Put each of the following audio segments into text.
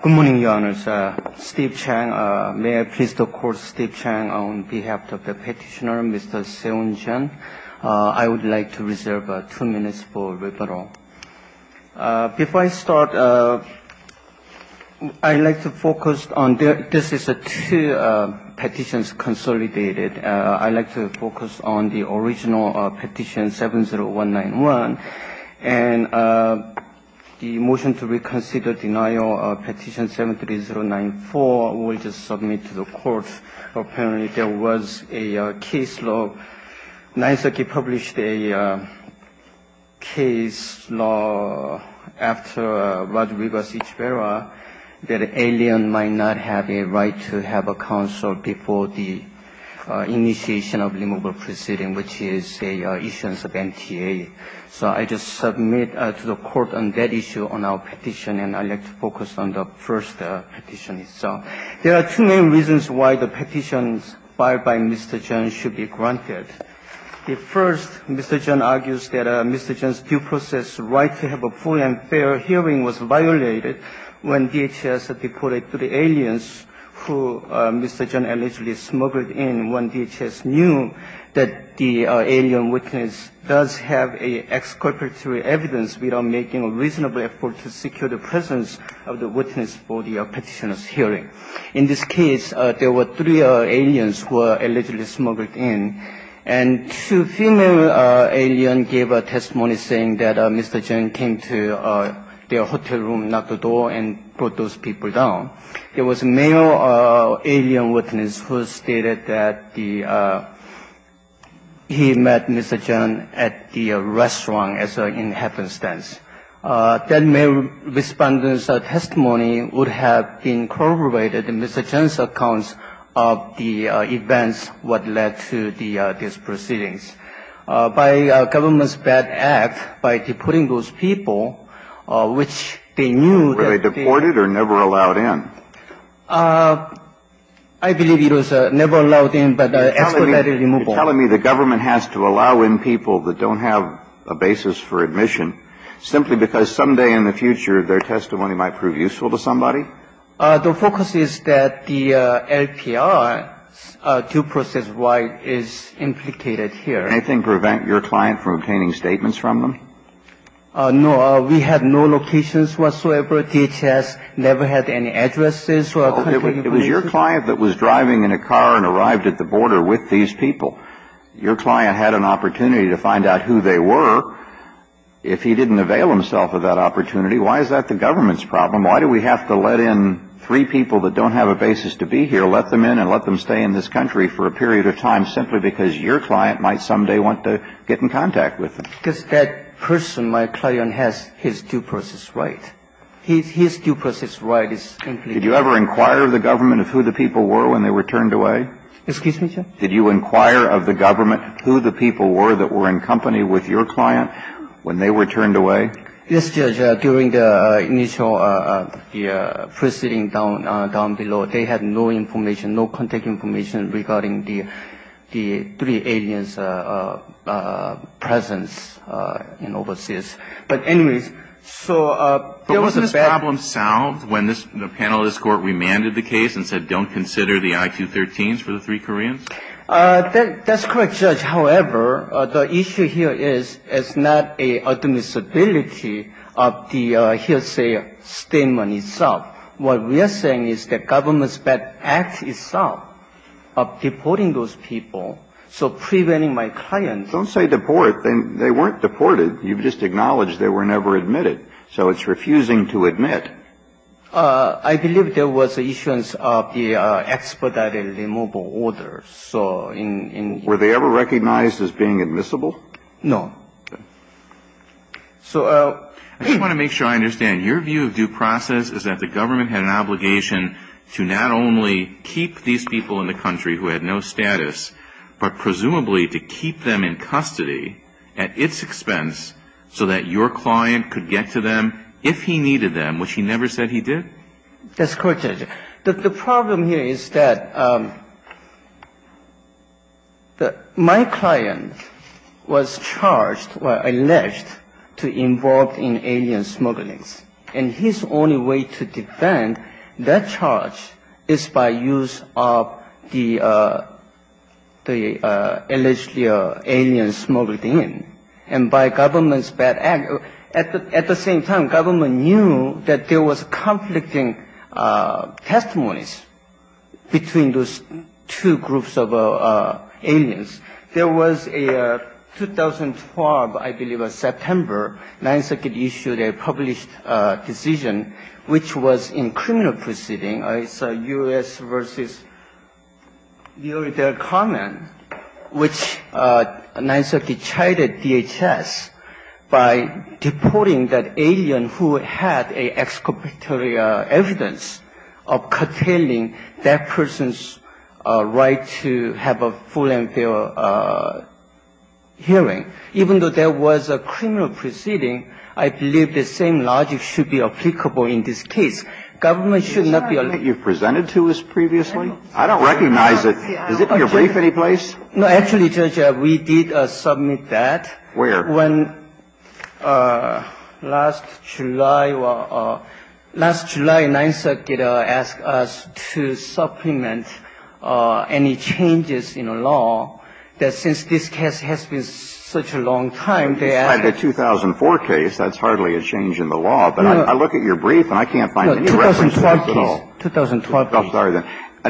Good morning, Your Honors. Steve Chang. May I please record Steve Chang on behalf of the petitioner, Mr. Seun Jeun. I would like to reserve two minutes for rebuttal. Before I start, I'd like to focus on this is a two petitions consolidated. I'd like to focus on the original petition 70191 and the motion to reconsider denial of petition 73094 will just submit to the court. Apparently, there was a case law. Naisaki published a case law after Rodriguez-Eachevera that an alien might not have a right to have a counsel before the initiation of removal proceeding, which is an issuance of MTA. So I just submit to the court on that issue on our petition, and I'd like to focus on the first petition itself. There are two main reasons why the petitions filed by Mr. Jeun should be granted. The first, Mr. Jeun argues that Mr. Jeun's due process right to have a full and fair hearing was violated when DHS reported to the aliens who Mr. Jeun allegedly smuggled in when DHS knew that the alien witness does have an exculpatory evidence without making a reasonable effort to secure the presence of the witness for the petitioner's hearing. In this case, there were three aliens who were allegedly smuggled in, and two female aliens gave a testimony saying that Mr. Jeun came to their hotel room, knocked the door, and brought those people down. There was a male alien witness who stated that the he met Mr. Jeun at the restaurant, as in happenstance. That male respondent's testimony would have incorporated Mr. Jeun's accounts of the events what led to the proceedings. By the government's bad act, by deporting those people, which they knew that they were not allowed in. You're telling me the government has to allow in people that don't have a basis for admission simply because someday in the future their testimony might prove useful to somebody? The focus is that the LPR, due process-wide, is implicated here. Can anything prevent your client from obtaining statements from them? No. We had no locations whatsoever. DHS never had any addresses. It was your client that was driving in a car and arrived at the border with these people. Your client had an opportunity to find out who they were. If he didn't avail himself of that opportunity, why is that the government's problem? Why do we have to let in three people that don't have a basis to be here, let them in and let them stay in this country for a period of time simply because your client might someday want to get in contact with them? Because that person, my client, has his due process right. His due process right is implicated. Did you ever inquire of the government of who the people were when they were turned away? Excuse me, sir? Did you inquire of the government who the people were that were in company with your client when they were turned away? Yes, Judge. During the initial proceeding down below, they had no information, no contact information regarding the three aliens' presence in overseas. But anyways, so there was a bad ---- But wasn't this problem solved when the panel of this Court remanded the case and said don't consider the I-213s for the three Koreans? That's correct, Judge. However, the issue here is it's not a admissibility of the hearsay statement itself. What we are saying is that government's bad act itself of deporting those people, so preventing my client ---- Don't say deport. They weren't deported. You've just acknowledged they were never admitted. So it's refusing to admit. I believe there was an issuance of the expedited removal order. Were they ever recognized as being admissible? No. So ---- I just want to make sure I understand. Your view of due process is that the government had an obligation to not only keep these people in the country who had no status, but presumably to keep them in custody at its expense so that your client could get to them if he needed them, which he never said he did? That's correct, Judge. The problem here is that my client was charged or alleged to be involved in alien smugglings, and his only way to defend that charge is by use of the alleged alien smuggled in. And by government's bad act. At the same time, government knew that there was conflicting testimonies between those two groups of aliens. There was a 2012, I believe, September, Ninth Circuit issued a published decision which was in criminal proceeding. It's U.S. v. Uridel Common, which Ninth Circuit chided DHS by deporting that alien who had an exculpatory evidence of curtailing that person's right to have a full and fair hearing. Even though there was a criminal proceeding, I believe the same logic should be applicable in this case. Government should not be allowed to do that. Is this argument you've presented to us previously? I don't recognize it. Is it in your brief anyplace? No. Actually, Judge, we did submit that. Where? When last July or last July, Ninth Circuit asked us to supplement any changes in the law that since this case has been such a long time, I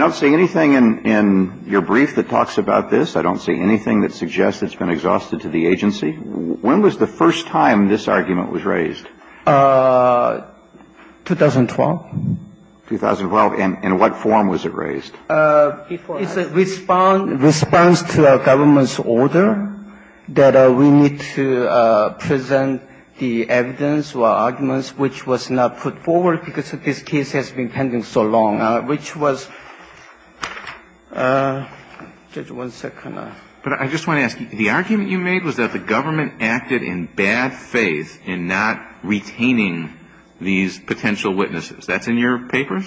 don't see anything in your brief that talks about this. I don't see anything that suggests it's been exhausted to the agency. When was the first time this argument was raised? 2012. 2012. And in what form was it raised? It's a response to a government's order that we need to supplement any changes in the law. I don't see any reason to present the evidence or arguments which was not put forward because this case has been pending so long, which was – Judge, one second. But I just want to ask you, the argument you made was that the government acted in bad faith in not retaining these potential witnesses. That's in your papers?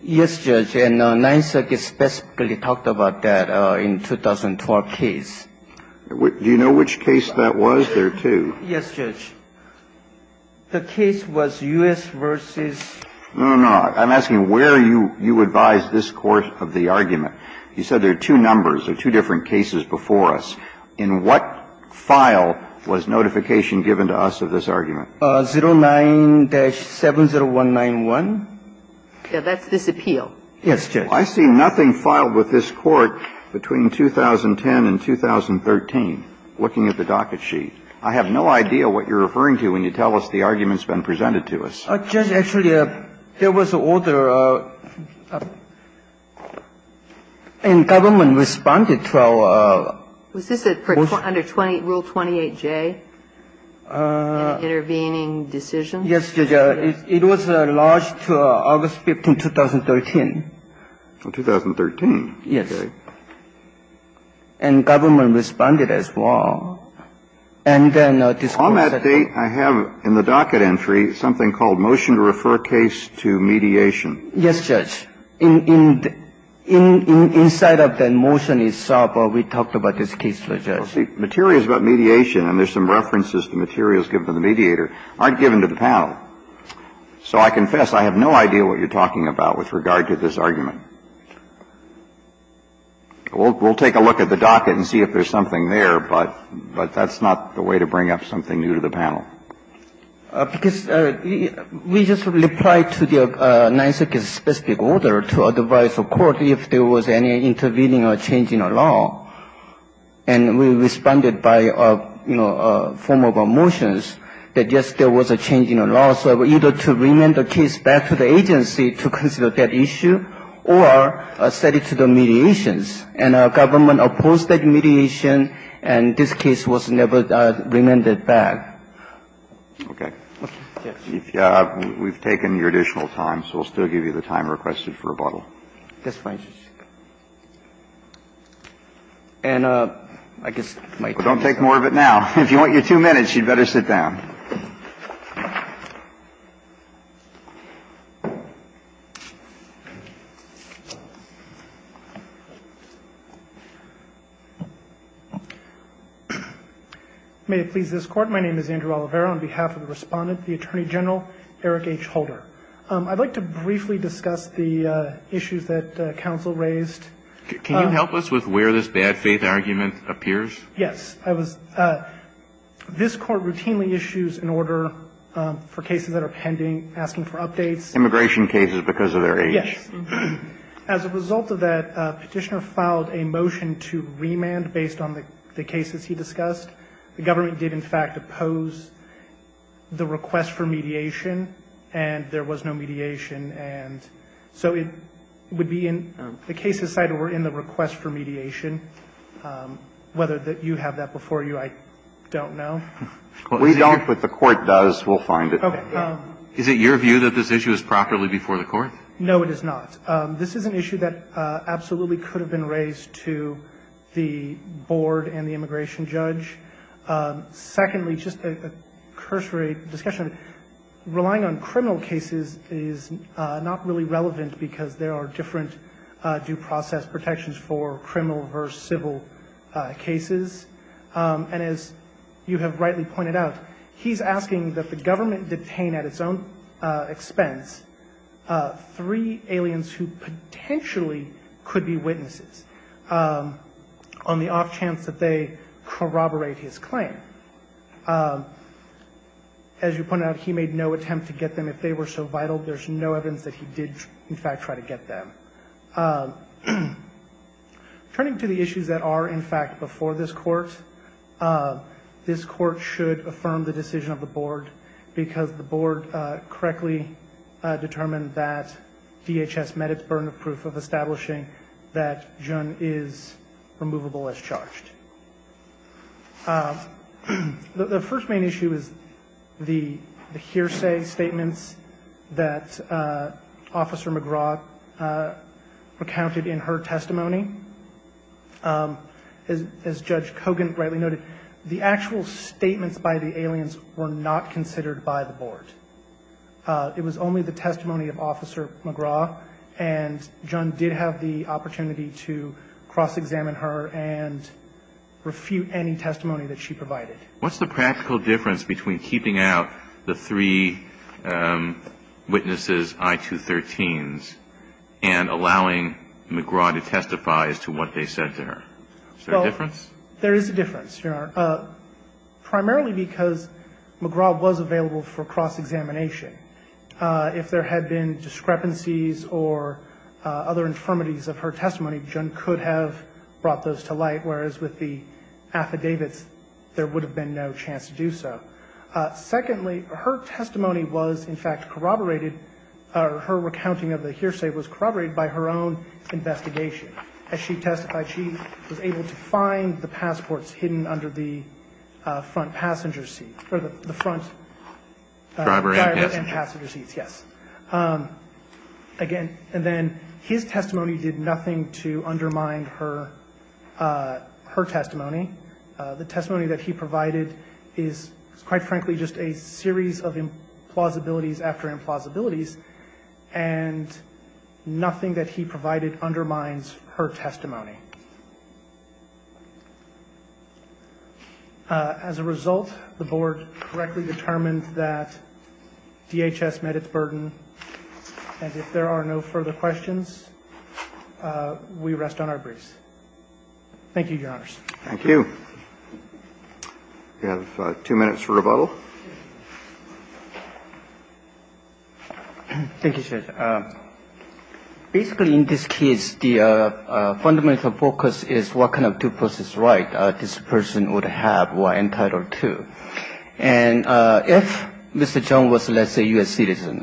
Yes, Judge. And Ninth Circuit specifically talked about that in 2012 case. Do you know which case that was? There are two. Yes, Judge. The case was U.S. versus – No, no, no. I'm asking where you advised this court of the argument. You said there are two numbers, there are two different cases before us. In what file was notification given to us of this argument? 09-70191. That's this appeal. Yes, Judge. I see nothing filed with this court between 2010 and 2013, looking at the docket sheet. I have no idea what you're referring to when you tell us the argument's been presented to us. Judge, actually, there was an order and government responded to our – Was this under Rule 28J, an intervening decision? Yes, Judge. It was lodged August 15, 2013. 2013? Yes. And government responded as well. And then this court said – On that date, I have in the docket entry something called motion to refer case to mediation. Yes, Judge. Inside of that motion itself, we talked about this case, Judge. Well, see, materials about mediation, and there's some references to materials given to the mediator, aren't given to the panel. So I confess I have no idea what you're talking about with regard to this argument. We'll take a look at the docket and see if there's something there, but that's not the way to bring up something new to the panel. Because we just replied to the Ninth Circuit's specific order to advise the court if there was any intervening or change in a law. And we responded by, you know, a form of a motion that yes, there was a change in a law. So either to remand the case back to the agency to consider that issue, or set it to the mediations. And our government opposed that mediation, and this case was never remanded back. Okay. We've taken your additional time, so we'll still give you the time requested for rebuttal. Yes, please. And I guess my time is up. Well, don't take more of it now. If you want your two minutes, you'd better sit down. May it please this Court. My name is Andrew Oliveira. On behalf of the Respondent, the Attorney General, Eric H. Holder. I'd like to briefly discuss the issues that counsel raised. Can you help us with where this bad faith argument appears? Yes. This Court routinely issues an order for cases that are pending, asking for updates. Immigration cases because of their age. Yes. As a result of that, Petitioner filed a motion to remand based on the cases he discussed. The government did, in fact, oppose the request for mediation, and there was no mediation. And so it would be in the cases cited were in the request for mediation. Whether you have that before you, I don't know. We don't, but the Court does. We'll find it. Okay. Is it your view that this issue is properly before the Court? No, it is not. This is an issue that absolutely could have been raised to the board and the immigration judge. Secondly, just a cursory discussion, relying on criminal cases is not really relevant because there are different due process protections for criminal versus civil cases. And as you have rightly pointed out, he's asking that the government detain at its own expense three aliens who potentially could be witnesses on the off chance that they corroborate his claim. As you pointed out, he made no attempt to get them. If they were so vital, there's no evidence that he did, in fact, try to get them. Turning to the issues that are, in fact, before this Court, this Court should affirm the decision of the board because the board correctly determined that DHS met its burden of establishing that Jun is removable as charged. The first main issue is the hearsay statements that Officer McGraw recounted in her testimony. As Judge Kogan rightly noted, the actual statements by the aliens were not considered by the board. It was only the testimony of Officer McGraw, and Jun did have the opportunity to cross-examine her and refute any testimony that she provided. What's the practical difference between keeping out the three witnesses, I-213s, and allowing McGraw to testify as to what they said to her? Is there a difference? There is a difference, Your Honor, primarily because McGraw was available for cross-examination. If there had been discrepancies or other infirmities of her testimony, Jun could have brought those to light, whereas with the affidavits, there would have been no chance to do so. Secondly, her testimony was, in fact, corroborated, or her recounting of the hearsay was corroborated by her own investigation. As she testified, she was able to find the passports hidden under the front passenger seat, or the front driver and passenger seats, yes. Again, and then his testimony did nothing to undermine her testimony. The testimony that he provided is, quite frankly, just a series of implausibilities after implausibilities, and nothing that he provided undermines her testimony. As a result, the Board correctly determined that DHS met its burden, and if there are no further questions, we rest on our briefs. Thank you, Your Honors. We have two minutes for rebuttal. Thank you, Judge. Basically, in this case, the fundamental focus is what kind of due process right this person would have or entitled to. And if Mr. Jun was, let's say, a U.S. citizen,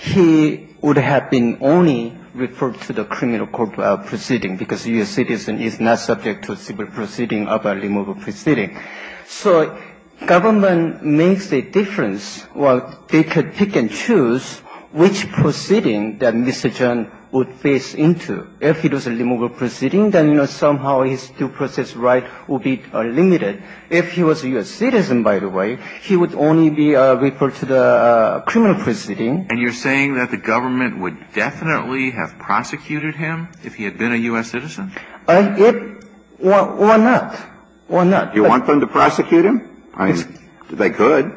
he would have been only referred to the criminal court proceeding, because a U.S. citizen is not subject to a civil proceeding of a removal proceeding. So government makes a difference. Well, they could pick and choose which proceeding that Mr. Jun would face into. If it was a removal proceeding, then somehow his due process right would be limited. If he was a U.S. citizen, by the way, he would only be referred to the criminal proceeding. And you're saying that the government would definitely have prosecuted him if he had been a U.S. citizen? Why not? Why not? Do you want them to prosecute him? I mean, they could.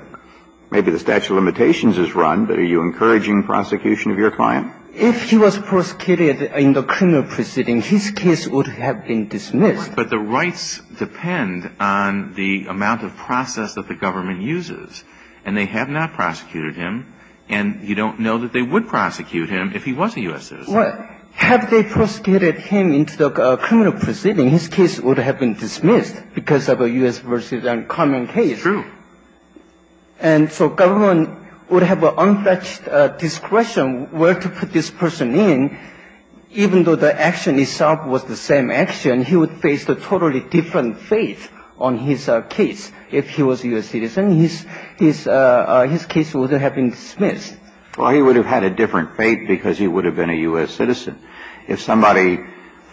Maybe the statute of limitations is run, but are you encouraging prosecution of your client? If he was prosecuted in the criminal proceeding, his case would have been dismissed. But the rights depend on the amount of process that the government uses. And they have not prosecuted him, and you don't know that they would prosecute him if he was a U.S. citizen. Well, have they prosecuted him in the criminal proceeding, his case would have been dismissed. Well, I mean, the U.S. v. Common case. True. And so government would have an untouched discretion where to put this person in, even though the action itself was the same action, he would face a totally different fate on his case. If he was a U.S. citizen, his case would have been dismissed. Well, he would have had a different fate because he would have been a U.S. citizen. If somebody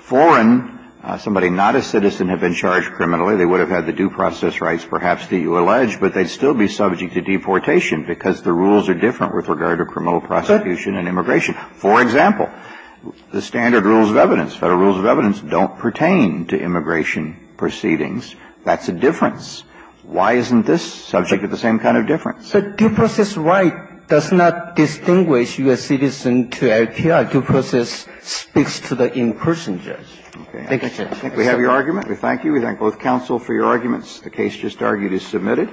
foreign, somebody not a citizen had been charged criminally, they would have had the due process rights perhaps that you allege, but they'd still be subject to deportation because the rules are different with regard to criminal prosecution and immigration. For example, the standard rules of evidence, Federal rules of evidence, don't pertain to immigration proceedings. That's a difference. Why isn't this subject to the same kind of difference? The due process right does not distinguish U.S. citizen to LPR. Due process speaks to the in-person judge. Thank you, Judge. We have your argument. We thank you. We thank both counsel for your arguments. The case just argued is submitted.